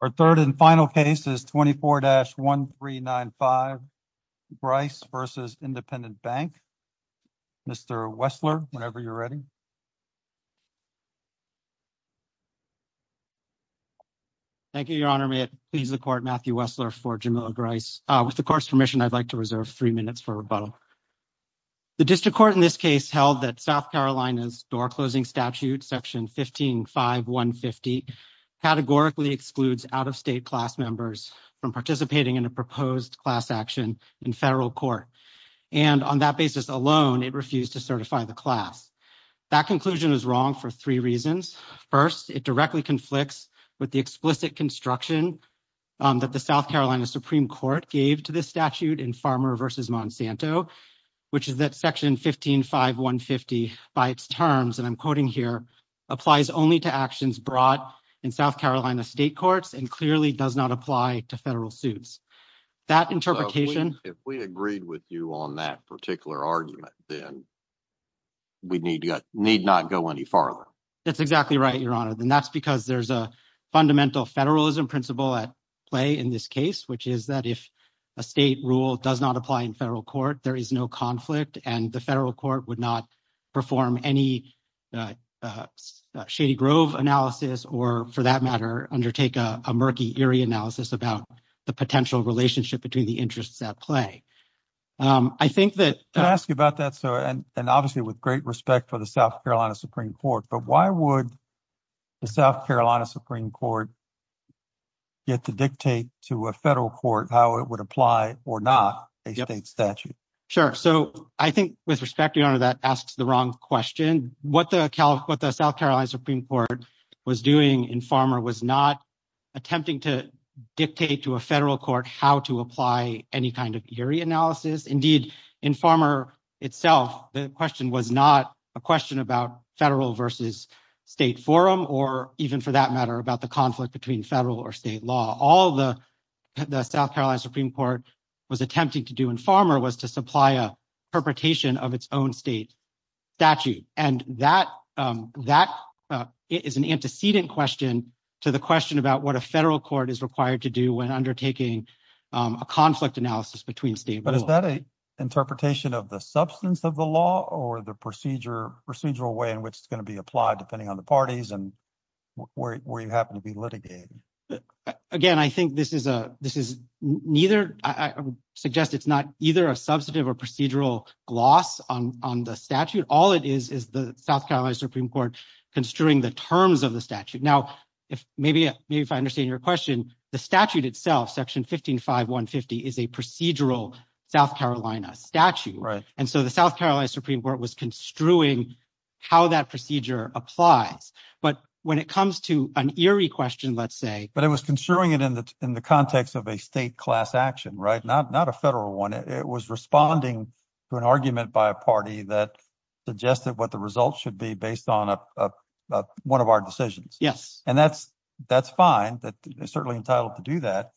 Our third and final case is 24-1395, Grice v. Independent Bank. Mr. Wessler, whenever you're ready. Thank you, Your Honor. May it please the Court, Matthew Wessler for Jamila Grice. With the Court's permission, I'd like to reserve three minutes for rebuttal. The District Court in this case held that South Carolina's door-closing statute, Section 15-5-150, categorically excludes out-of-state class members from participating in a proposed class action in federal court. And on that basis alone, it refused to certify the class. That conclusion is wrong for three reasons. First, it directly conflicts with the explicit construction that the South Carolina Supreme Court gave to this statute in Farmer v. Monsanto, which is that Section 15-5-150, by its terms, and I'm quoting here, applies only to actions brought in South Carolina state courts and clearly does not apply to federal suits. If we agreed with you on that particular argument, then we need not go any farther. That's exactly right, Your Honor, and that's because there's a fundamental federalism principle at play in this case, which is that if a state rule does not apply in federal court, there is no conflict and the federal court would not perform any shady grove analysis or, for that matter, undertake a murky, eerie analysis about the potential relationship between the interests at play. Can I ask you about that, sir, and obviously with great respect for the South Carolina Supreme Court, but why would the South Carolina Supreme Court get to dictate to a federal court how it would apply or not a state statute? Sure, so I think with respect, Your Honor, that asks the wrong question. What the South Carolina Supreme Court was doing in Farmer was not attempting to dictate to a federal court how to apply any kind of eerie analysis. Indeed, in Farmer itself, the question was not a question about federal versus state forum or even, for that matter, about the conflict between federal or state law. All the South Carolina Supreme Court was attempting to do in Farmer was to supply a perpetration of its own state statute, and that is an antecedent question to the question about what a federal court is required to do when undertaking a conflict analysis between states. But is that an interpretation of the substance of the law or the procedural way in which it's going to be applied, depending on the parties and where you happen to be litigated? Again, I think this is neither—I would suggest it's not either a substantive or procedural gloss on the statute. All it is is the South Carolina Supreme Court construing the terms of the statute. Now, maybe if I understand your question, the statute itself, Section 155150, is a procedural South Carolina statute. And so the South Carolina Supreme Court was construing how that procedure applies. But when it comes to an eerie question, let's say— —suggested what the results should be based on one of our decisions. Yes. And that's fine. They're certainly entitled to do that.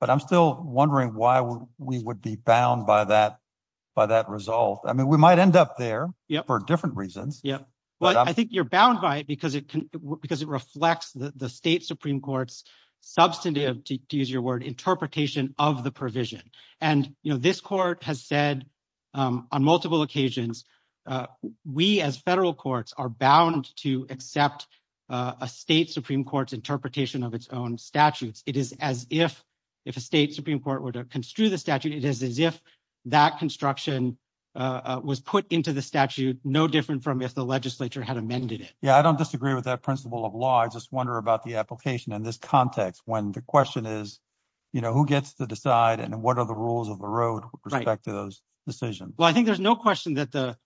But I'm still wondering why we would be bound by that result. I mean, we might end up there for different reasons. Yeah. Well, I think you're bound by it because it reflects the state Supreme Court's substantive, to use your word, interpretation of the provision. And, you know, this court has said on multiple occasions, we as federal courts are bound to accept a state Supreme Court's interpretation of its own statutes. It is as if—if a state Supreme Court were to construe the statute, it is as if that construction was put into the statute no different from if the legislature had amended it. Yeah, I don't disagree with that principle of law. I just wonder about the application in this context when the question is, you know, who gets to decide and what are the rules of the road with respect to those decisions? Well, I think there's no question that the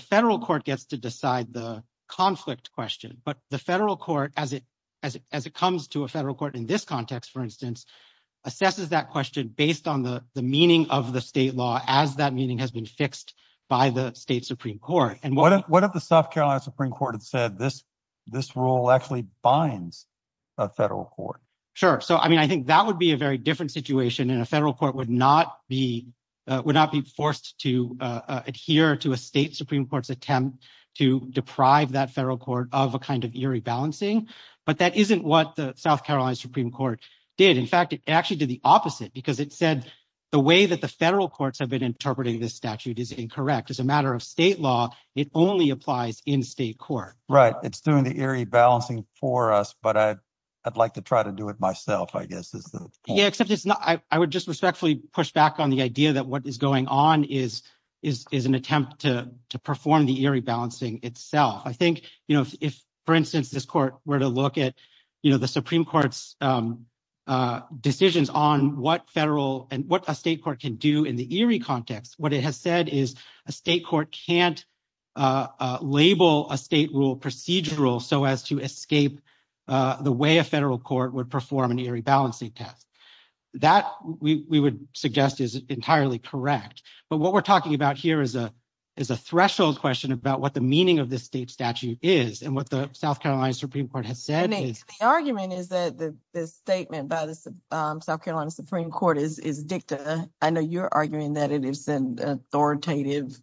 federal court gets to decide the conflict question. But the federal court, as it comes to a federal court in this context, for instance, assesses that question based on the meaning of the state law as that meaning has been fixed by the state Supreme Court. What if the South Carolina Supreme Court had said this rule actually binds a federal court? Sure. So, I mean, I think that would be a very different situation, and a federal court would not be forced to adhere to a state Supreme Court's attempt to deprive that federal court of a kind of eerie balancing. But that isn't what the South Carolina Supreme Court did. In fact, it actually did the opposite because it said the way that the federal courts have been interpreting this statute is incorrect. As a matter of state law, it only applies in state court. Right. It's doing the eerie balancing for us, but I'd like to try to do it myself, I guess, is the point. Yeah, except it's not. I would just respectfully push back on the idea that what is going on is an attempt to perform the eerie balancing itself. I think, you know, if, for instance, this court were to look at, you know, the Supreme Court's decisions on what federal and what a state court can do in the eerie context, what it has said is a state court can't label a state rule procedural so as to escape the way a federal court would perform an eerie balancing test. That we would suggest is entirely correct. But what we're talking about here is a threshold question about what the meaning of this state statute is and what the South Carolina Supreme Court has said. The argument is that the statement by the South Carolina Supreme Court is dicta. I know you're arguing that it is an authoritative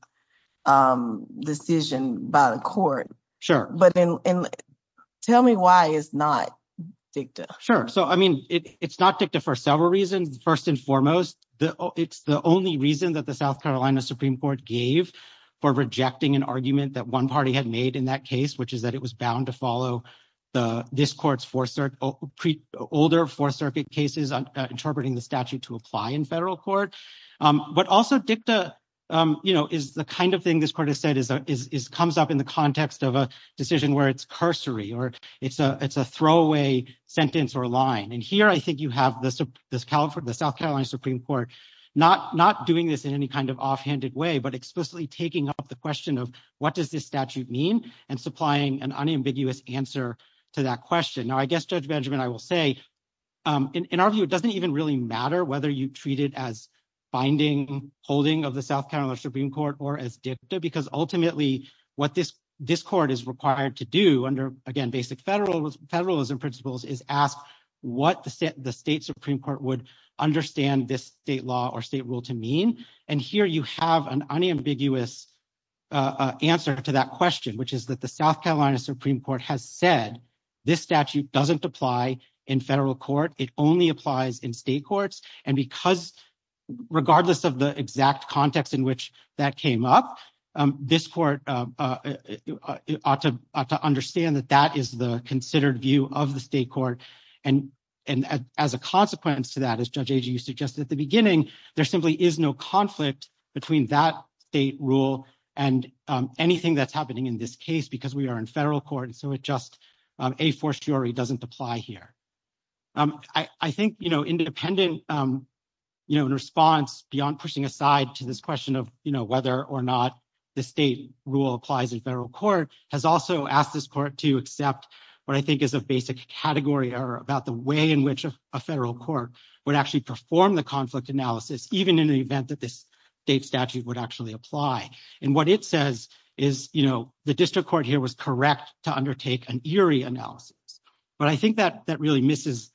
decision by the court. Sure. But tell me why it's not dicta. Sure. So, I mean, it's not dicta for several reasons. First and foremost, it's the only reason that the South Carolina Supreme Court gave for rejecting an argument that one party had made in that case, which is that it was bound to follow this court's older Fourth Circuit cases interpreting the statute to apply in federal court. But also dicta, you know, is the kind of thing this court has said comes up in the context of a decision where it's cursory or it's a throwaway sentence or line. And here I think you have the South Carolina Supreme Court not doing this in any kind of offhanded way but explicitly taking up the question of what does this statute mean and supplying an unambiguous answer to that question. Now, I guess, Judge Benjamin, I will say, in our view, it doesn't even really matter whether you treat it as binding holding of the South Carolina Supreme Court or as dicta because ultimately what this court is required to do under, again, basic federalism principles is ask what the state Supreme Court would understand this state law or state rule to mean. And here you have an unambiguous answer to that question, which is that the South Carolina Supreme Court has said this statute doesn't apply in federal court. It only applies in state courts. And because regardless of the exact context in which that came up, this court ought to understand that that is the considered view of the state court. And as a consequence to that, as Judge Agee, you suggested at the beginning, there simply is no conflict between that state rule and anything that's happening in this case because we are in federal court. And so it just a fortiori doesn't apply here. I think, you know, independent, you know, in response beyond pushing aside to this question of whether or not the state rule applies in federal court has also asked this court to accept what I think is a basic category or about the way in which a federal court would actually perform the conflict analysis, even in the event that this state statute would actually apply. And what it says is, you know, the district court here was correct to undertake an eerie analysis. But I think that that really misses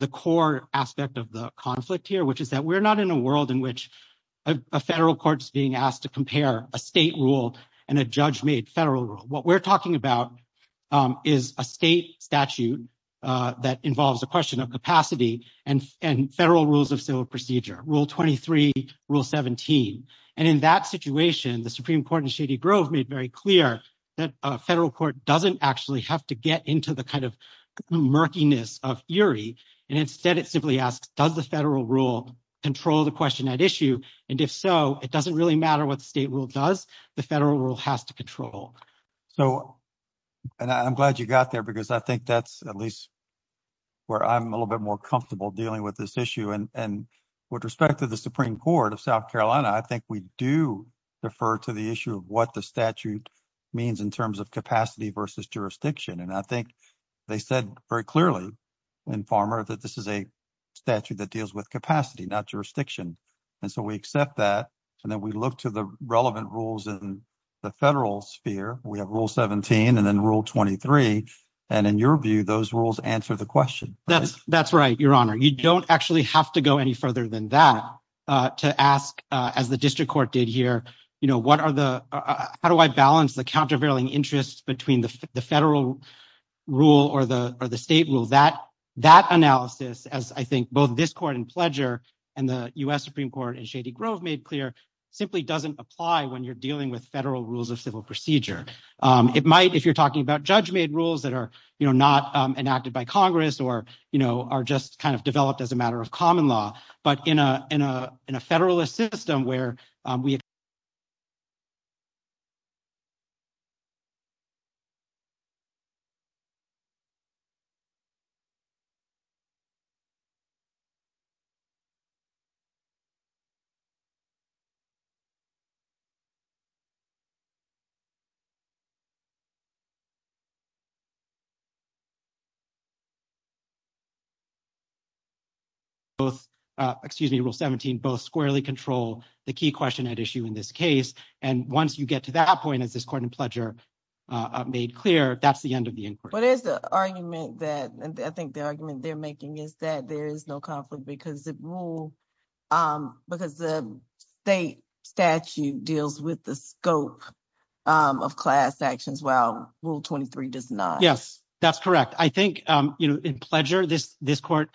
the core aspect of the conflict here, which is that we're not in a world in which a federal court is being asked to compare a state rule and a judge made federal rule. What we're talking about is a state statute that involves a question of capacity and federal rules of civil procedure. Rule 23, Rule 17. And in that situation, the Supreme Court in Shady Grove made very clear that a federal court doesn't actually have to get into the kind of murkiness of eerie. And instead, it simply asks, does the federal rule control the question at issue? And if so, it doesn't really matter what the state rule does. The federal rule has to control. So, and I'm glad you got there because I think that's at least where I'm a little bit more comfortable dealing with this issue. And with respect to the Supreme Court of South Carolina, I think we do refer to the issue of what the statute means in terms of capacity versus jurisdiction. And I think they said very clearly in Farmer that this is a statute that deals with capacity, not jurisdiction. And so we accept that. And then we look to the relevant rules in the federal sphere. We have Rule 17 and then Rule 23. And in your view, those rules answer the question. That's that's right, Your Honor. You don't actually have to go any further than that to ask, as the district court did here. You know, what are the how do I balance the countervailing interests between the federal rule or the or the state rule that that analysis? As I think both this court and pledger and the US Supreme Court in Shady Grove made clear simply doesn't apply when you're dealing with federal rules of civil procedure. It might if you're talking about judge made rules that are not enacted by Congress or, you know, are just kind of developed as a matter of common law. But in a in a in a federalist system where we. Both excuse me, Rule 17, both squarely control the key question at issue in this case. And once you get to that point, as this court and pledger made clear, that's the end of the inquiry. What is the argument that I think the argument they're making is that there is no conflict because the rule, because the state statute deals with the scope of capacity, Rule 23 does not. Yes, that's correct. I think, you know, in pleasure, this this court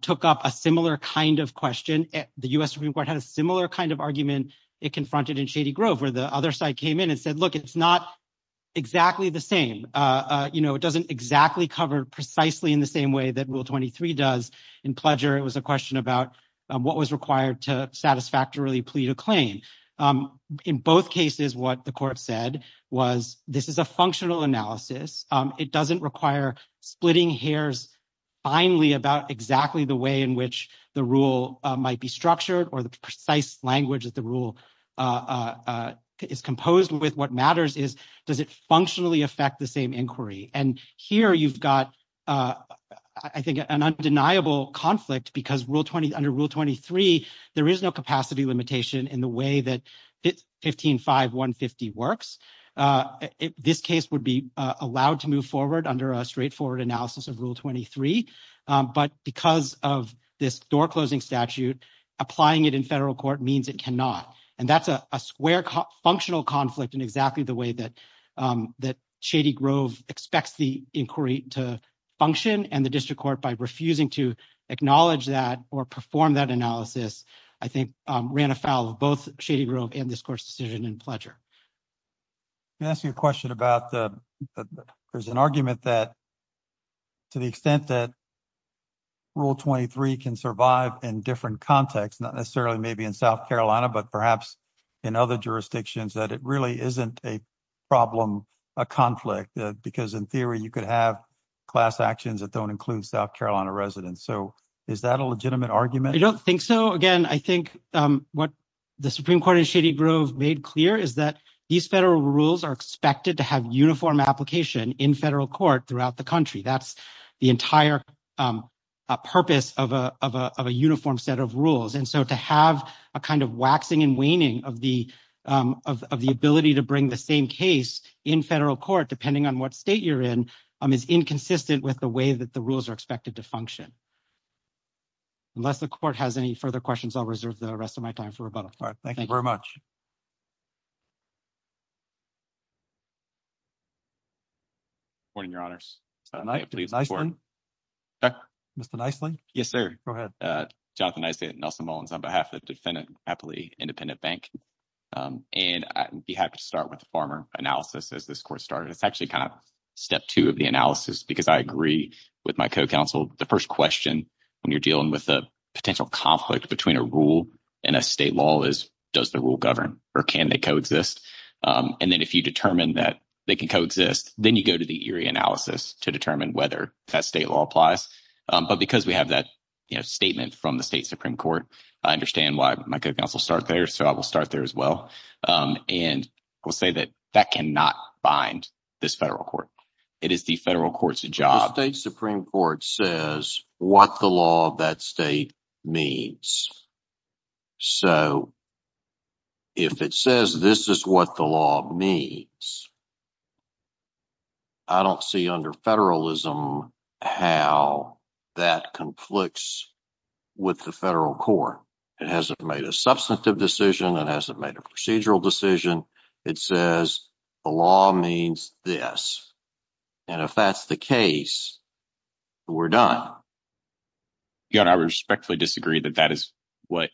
took up a similar kind of question. The US Supreme Court had a similar kind of argument. It confronted in Shady Grove where the other side came in and said, look, it's not exactly the same. You know, it doesn't exactly cover precisely in the same way that Rule 23 does in pleasure. It was a question about what was required to satisfactorily plead a claim. In both cases, what the court said was this is a functional analysis. It doesn't require splitting hairs finally about exactly the way in which the rule might be structured or the precise language that the rule is composed with. What matters is, does it functionally affect the same inquiry? And here you've got, I think, an undeniable conflict because Rule 20 under Rule 23, there is no capacity limitation in the way that 15 5 1 50 works. This case would be allowed to move forward under a straightforward analysis of Rule 23. But because of this door closing statute, applying it in federal court means it cannot. And that's a square functional conflict in exactly the way that that Shady Grove expects the inquiry to function. And the district court, by refusing to acknowledge that or perform that analysis, I think, ran afoul of both Shady Grove and this court's decision in pleasure. Ask you a question about there's an argument that. To the extent that Rule 23 can survive in different contexts, not necessarily maybe in South Carolina, but perhaps in other jurisdictions that it really isn't a problem, a conflict, because in theory, you could have class actions that don't include South Carolina residents. So is that a legitimate argument? I don't think so. Again, I think what the Supreme Court in Shady Grove made clear is that these federal rules are expected to have uniform application in federal court throughout the country. That's the entire purpose of a uniform set of rules. And so to have a kind of waxing and waning of the of the ability to bring the same case in federal court, depending on what state you're in, is inconsistent with the way that the rules are expected to function. Unless the court has any further questions, I'll reserve the rest of my time for rebuttal. Thank you very much. Morning, Your Honors. Mr. Nicely? Yes, sir. Go ahead. Jonathan Nicely and Nelson Mullins on behalf of Defendant Happily Independent Bank. And I'd be happy to start with the farmer analysis as this court started. It's actually kind of step two of the analysis because I agree with my co-counsel. The first question when you're dealing with a potential conflict between a rule and a state law is, does the rule govern or can they coexist? And then if you determine that they can coexist, then you go to the analysis to determine whether that state law applies. But because we have that statement from the state Supreme Court, I understand why my co-counsel start there. So I will start there as well and will say that that cannot bind this federal court. It is the federal court's job. The state Supreme Court says what the law of that state means. So if it says this is what the law means, I don't see under federalism how that conflicts with the federal court. It hasn't made a substantive decision. It hasn't made a procedural decision. It says the law means this. And if that's the case, we're done. I respectfully disagree that that is what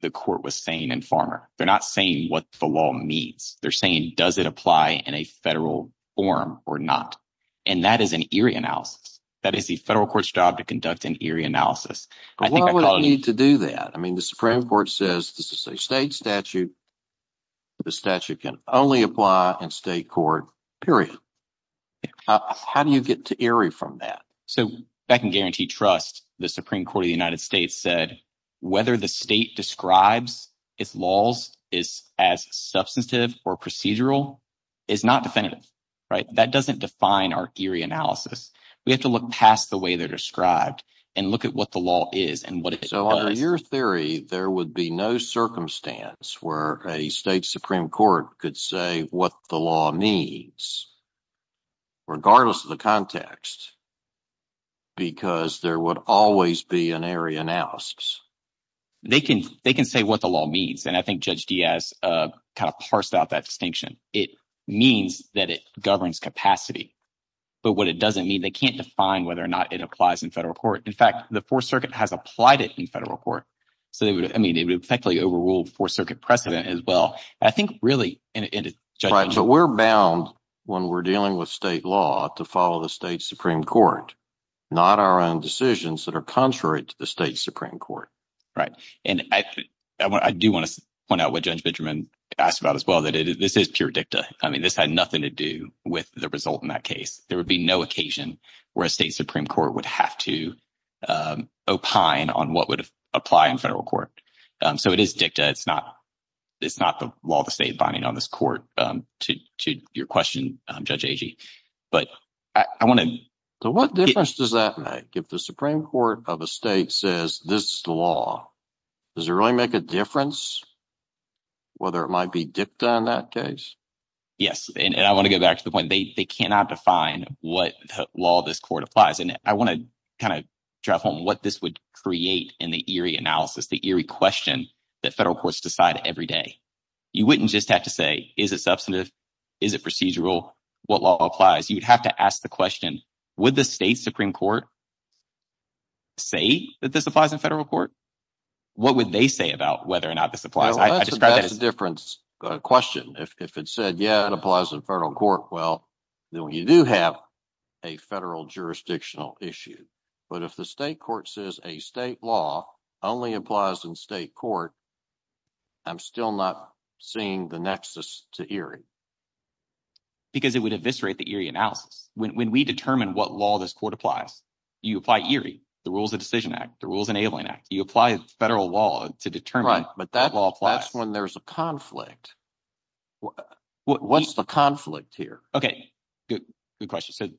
the court was saying and farmer. They're not saying what the law means. They're saying, does it apply in a federal forum or not? And that is an eerie analysis. That is the federal court's job to conduct an eerie analysis. I think I need to do that. I mean, the Supreme Court says this is a state statute. The statute can only apply in state court, period. How do you get to Erie from that? So I can guarantee trust the Supreme Court of the United States said whether the state describes its laws is as substantive or procedural is not definitive. Right. That doesn't define our eerie analysis. We have to look past the way they're described and look at what the law is and what it is. So your theory, there would be no circumstance where a state Supreme Court could say what the law means. Regardless of the context. Because there would always be an area analysis, they can they can say what the law means. And I think Judge Diaz kind of parsed out that distinction. It means that it governs capacity. But what it doesn't mean, they can't define whether or not it applies in federal court. In fact, the Fourth Circuit has applied it in federal court. So they would I mean, it would effectively overrule the Fourth Circuit precedent as well. I think really. But we're bound when we're dealing with state law to follow the state Supreme Court, not our own decisions that are contrary to the state Supreme Court. Right. And I do want to point out what Judge Benjamin asked about as well, that this is pure dicta. I mean, this had nothing to do with the result in that case. There would be no occasion where a state Supreme Court would have to opine on what would apply in federal court. So it is dicta. It's not it's not the law of the state binding on this court to your question, Judge Agee. But I want to. So what difference does that make if the Supreme Court of a state says this is the law? Does it really make a difference? Whether it might be dicta in that case? Yes. And I want to get back to the point. They cannot define what law this court applies. And I want to kind of drive home what this would create in the eerie analysis, the eerie question that federal courts decide every day. You wouldn't just have to say, is it substantive? Is it procedural? What law applies? You'd have to ask the question, would the state Supreme Court. Say that this applies in federal court, what would they say about whether or not this applies? I describe it as a difference question. If it said, yeah, it applies in federal court. Well, then when you do have a federal jurisdictional issue, but if the state court says a state law only applies in state court. I'm still not seeing the nexus to Erie. Because it would eviscerate the eerie analysis when we determine what law this court applies. You apply the rules of Decision Act, the rules enabling you apply federal law to determine. But that's when there's a conflict. What's the conflict here? Okay, good. Good question. So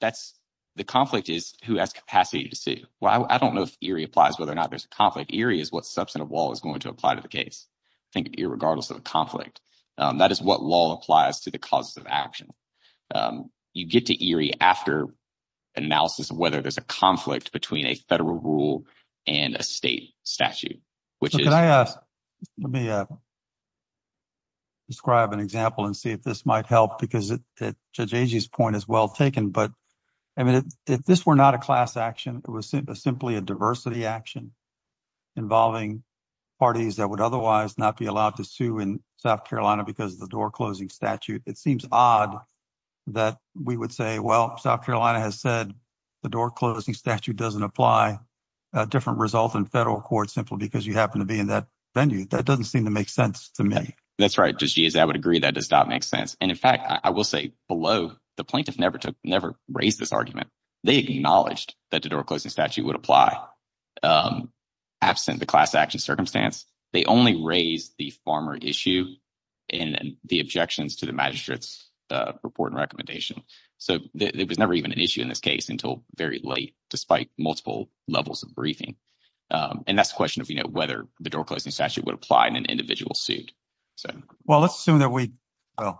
that's the conflict is who has capacity to see. Well, I don't know if Erie applies, whether or not there's a conflict. Erie is what substantive law is going to apply to the case. I think irregardless of the conflict, that is what law applies to the causes of action. You get to Erie after analysis of whether there's a conflict between a federal rule and a state statute, which is. Let me. Describe an example and see if this might help, because it judges point is well taken, but I mean, if this were not a class action, it was simply a diversity action. Involving parties that would otherwise not be allowed to sue in South Carolina because of the door closing statute. It seems odd that we would say, well, South Carolina has said the door closing statute doesn't apply a different result in federal court simply because you happen to be in that venue. That doesn't seem to make sense to me. That's right. I would agree that does not make sense. And in fact, I will say below the plaintiff never took never raised this argument. They acknowledged that the door closing statute would apply absent the class action circumstance. They only raise the former issue and the objections to the magistrate's report and recommendation. So there was never even an issue in this case until very late, despite multiple levels of briefing. And that's a question of whether the door closing statute would apply in an individual suit. Well, let's assume that we are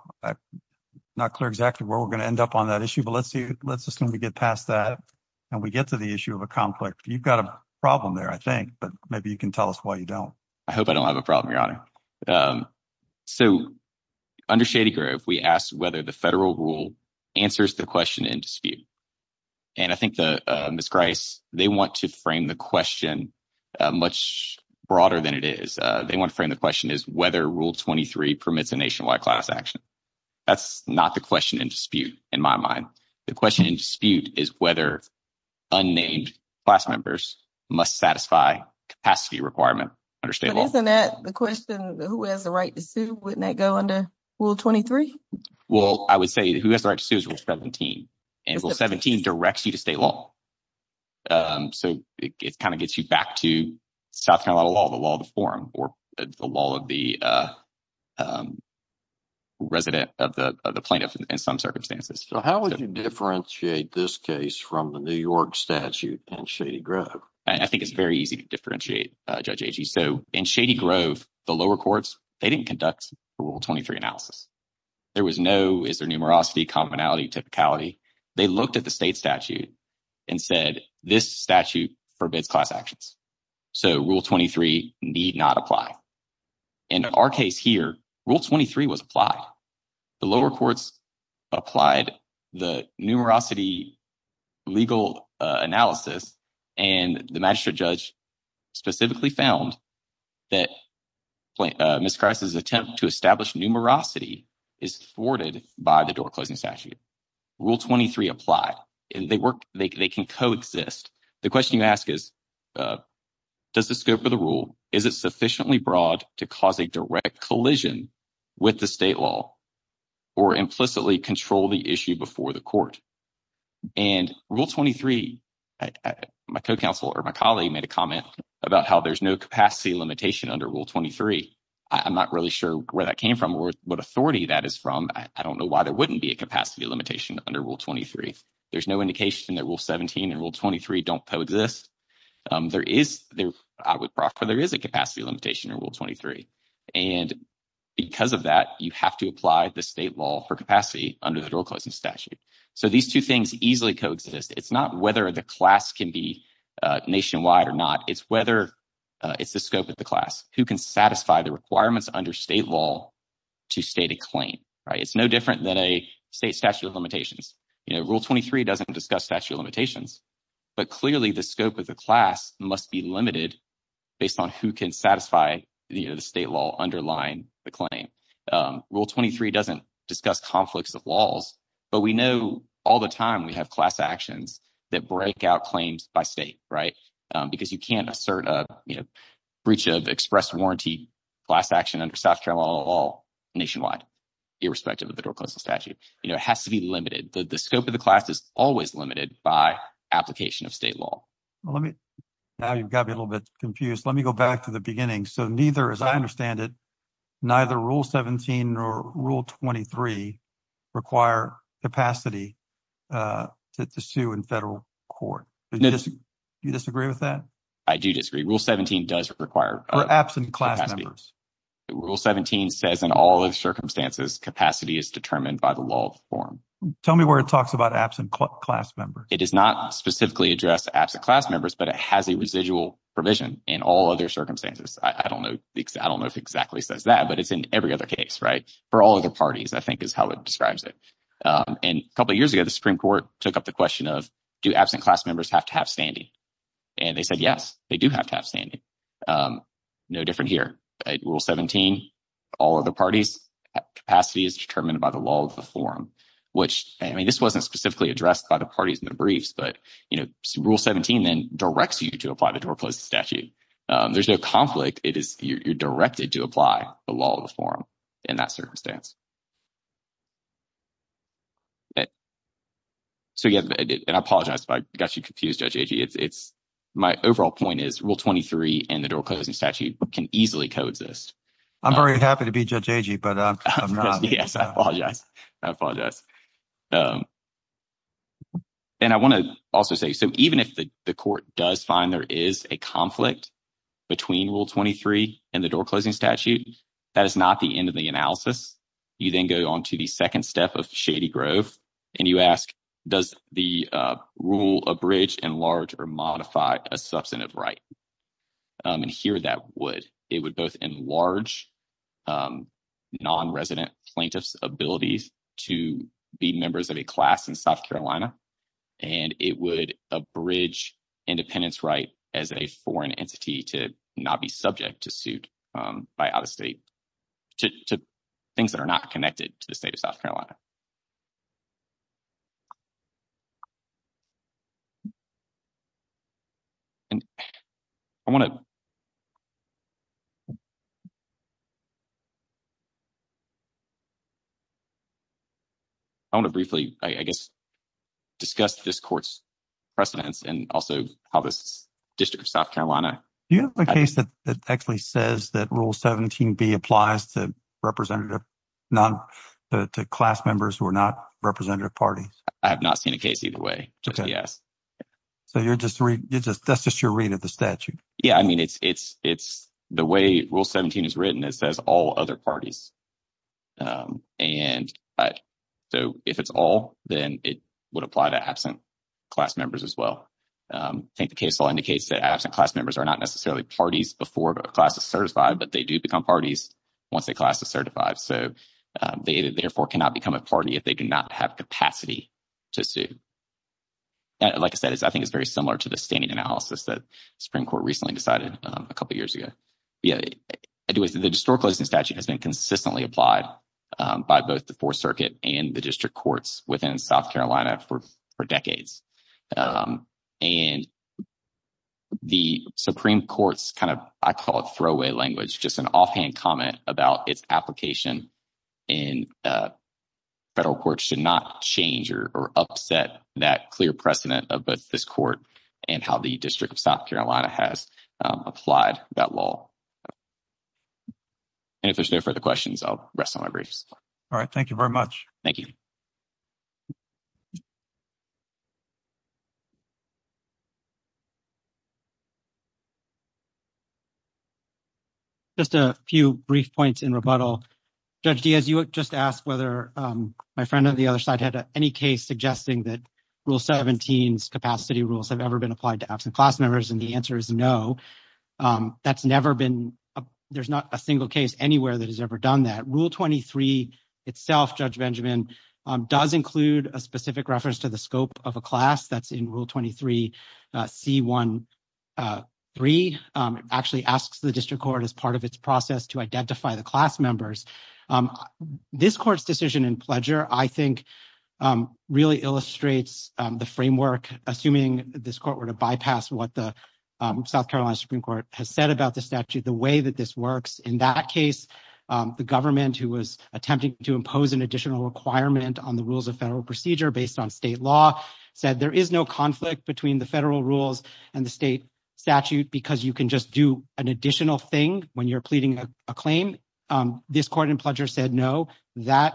not clear exactly where we're going to end up on that issue. But let's see. Let's just let me get past that and we get to the issue of a conflict. You've got a problem there, I think. But maybe you can tell us why you don't. I hope I don't have a problem, Your Honor. So under Shady Grove, we asked whether the federal rule answers the question in dispute. And I think the Miss Grace, they want to frame the question much broader than it is. They want to frame the question is whether Rule 23 permits a nationwide class action. That's not the question in dispute. In my mind, the question in dispute is whether unnamed class members must satisfy capacity requirement. Understand that the question, who has the right to sue? Wouldn't that go under Rule 23? Well, I would say who has the right to sue is Rule 17. And Rule 17 directs you to stay long. So it kind of gets you back to South Carolina law, the law of the forum or the law of the resident of the plaintiff in some circumstances. So how would you differentiate this case from the New York statute and Shady Grove? I think it's very easy to differentiate, Judge Agee. So in Shady Grove, the lower courts, they didn't conduct Rule 23 analysis. There was no is there numerosity, commonality, typicality. They looked at the state statute and said this statute forbids class actions. So Rule 23 need not apply. In our case here, Rule 23 was applied. The lower courts applied the numerosity legal analysis. And the magistrate judge specifically found that Miss Christ's attempt to establish numerosity is thwarted by the door closing statute. Rule 23 applied and they work. They can coexist. The question you ask is, does the scope of the rule, is it sufficiently broad to cause a direct collision with the state law or implicitly control the issue before the court? And Rule 23, my co-counsel or my colleague made a comment about how there's no capacity limitation under Rule 23. I'm not really sure where that came from or what authority that is from. I don't know why there wouldn't be a capacity limitation under Rule 23. There's no indication that Rule 17 and Rule 23 don't coexist. There is, I would proffer, there is a capacity limitation in Rule 23. And because of that, you have to apply the state law for capacity under the door closing statute. So these two things easily coexist. It's not whether the class can be nationwide or not. It's whether it's the scope of the class who can satisfy the requirements under state law to state a claim. It's no different than a state statute of limitations. Rule 23 doesn't discuss statute of limitations. But clearly, the scope of the class must be limited based on who can satisfy the state law underlying the claim. Rule 23 doesn't discuss conflicts of laws, but we know all the time we have class actions that break out claims by state. Right. Because you can't assert a breach of express warranty class action under South Carolina law nationwide, irrespective of the door closing statute. It has to be limited. The scope of the class is always limited by application of state law. Now you've got me a little bit confused. Let me go back to the beginning. So neither, as I understand it, neither Rule 17 nor Rule 23 require capacity to sue in federal court. Do you disagree with that? I do disagree. Rule 17 does require. Or absent class members. Rule 17 says in all the circumstances, capacity is determined by the law of form. Tell me where it talks about absent class members. It does not specifically address absent class members, but it has a residual provision in all other circumstances. I don't know. I don't know if exactly says that, but it's in every other case. Right. For all of the parties, I think is how it describes it. And a couple of years ago, the Supreme Court took up the question of do absent class members have to have standing? And they said, yes, they do have to have standing. No different here. Rule 17, all other parties, capacity is determined by the law of the form, which I mean, this wasn't specifically addressed by the parties in the briefs. But, you know, Rule 17 then directs you to apply the door closing statute. There's no conflict. It is you're directed to apply the law of the form in that circumstance. So, yeah, and I apologize if I got you confused, Judge Agee. It's my overall point is Rule 23 and the door closing statute can easily coexist. I'm very happy to be Judge Agee, but I'm not. Yes, I apologize. I apologize. And I want to also say, so even if the court does find there is a conflict between Rule 23 and the door closing statute, that is not the end of the analysis. You then go on to the second step of Shady Grove and you ask, does the rule abridge, enlarge or modify a substantive right? And here that would. It would both enlarge non-resident plaintiff's abilities to be members of a class in South Carolina. And it would abridge independence right as a foreign entity to not be subject to suit by out-of-state to things that are not connected to the state of South Carolina. And I want to. I want to briefly, I guess, discuss this court's precedents and also how this district of South Carolina. Do you have a case that actually says that Rule 17B applies to representative not to class members who are not representative parties? I have not seen a case either way. Yes. So you're just you're just that's just your read of the statute. Yeah, I mean, it's it's it's the way Rule 17 is written. It says all other parties. And so if it's all, then it would apply to absent class members as well. I think the case all indicates that absent class members are not necessarily parties before a class is certified, but they do become parties once a class is certified. So they therefore cannot become a party if they do not have capacity to sue. Like I said, I think it's very similar to the standing analysis that Supreme Court recently decided a couple of years ago. The historical statute has been consistently applied by both the Fourth Circuit and the district courts within South Carolina for decades. And. The Supreme Court's kind of I call it throwaway language, just an offhand comment about its application. And federal courts should not change or upset that clear precedent of this court and how the district of South Carolina has applied that law. And if there's no further questions, I'll rest on my briefs. All right. Thank you very much. Thank you. Just a few brief points in rebuttal. Judge Diaz, you just asked whether my friend on the other side had any case suggesting that Rule 17's capacity rules have ever been applied to absent class members. And the answer is no. That's never been. There's not a single case anywhere that has ever done that. Rule 23 itself, Judge Benjamin, does include a specific reference to the scope of a class that's in Rule 23. C-1-3 actually asks the district court as part of its process to identify the class members. This court's decision in Pledger, I think, really illustrates the framework, assuming this court were to bypass what the South Carolina Supreme Court has said about the statute, the way that this works. In that case, the government who was attempting to impose an additional requirement on the rules of federal procedure based on state law said there is no conflict between the federal rules and the state statute because you can just do an additional thing when you're pleading a claim. This court in Pledger said no, that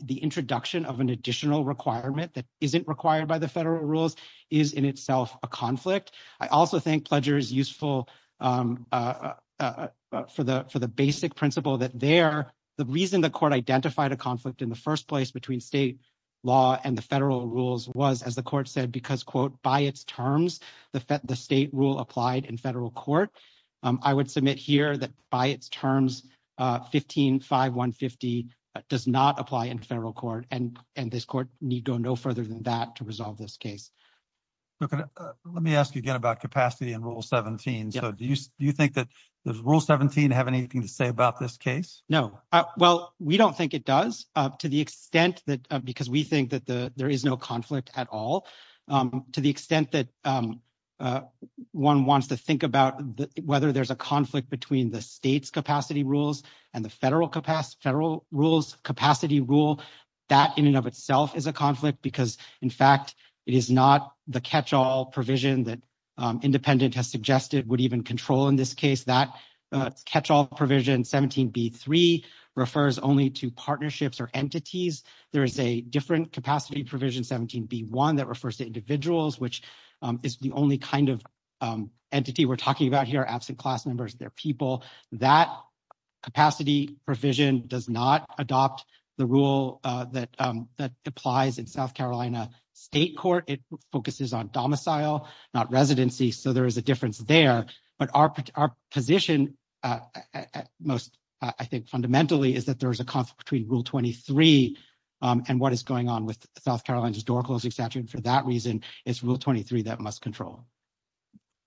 the introduction of an additional requirement that isn't required by the federal rules is in itself a conflict. I also think Pledger is useful for the basic principle that the reason the court identified a conflict in the first place between state law and the federal rules was, as the court said, because, quote, by its terms, the state rule applied in federal court. I would submit here that by its terms, 15-5-150 does not apply in federal court, and this court need go no further than that to resolve this case. Let me ask you again about capacity and Rule 17. Do you think that Rule 17 has anything to say about this case? No. Well, we don't think it does, because we think that there is no conflict at all. To the extent that one wants to think about whether there's a conflict between the state's capacity rules and the federal capacity rules, that in and of itself is a conflict because, in fact, it is not the catch-all provision that independent has suggested would even control in this case. That catch-all provision, 17-B-3, refers only to partnerships or entities. There is a different capacity provision, 17-B-1, that refers to individuals, which is the only kind of entity we're talking about here, absent class members, their people. That capacity provision does not adopt the rule that applies in South Carolina state court. It focuses on domicile, not residency, so there is a difference there. But our position most, I think, fundamentally is that there is a conflict between Rule 23 and what is going on with South Carolina's door-closing statute, and for that reason, it's Rule 23 that must control.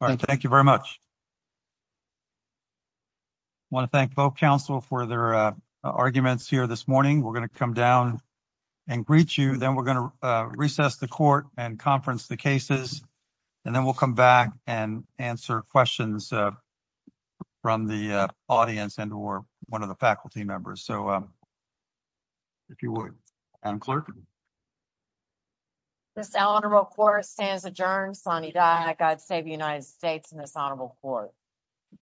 All right, thank you very much. I want to thank both counsel for their arguments here this morning. We're going to come down and greet you, then we're going to recess the court and conference the cases, and then we'll come back and answer questions from the audience and or one of the faculty members. So, if you would, Madam Clerk. This Honorable Court stands adjourned. Sanidad and God save the United States and this Honorable Court.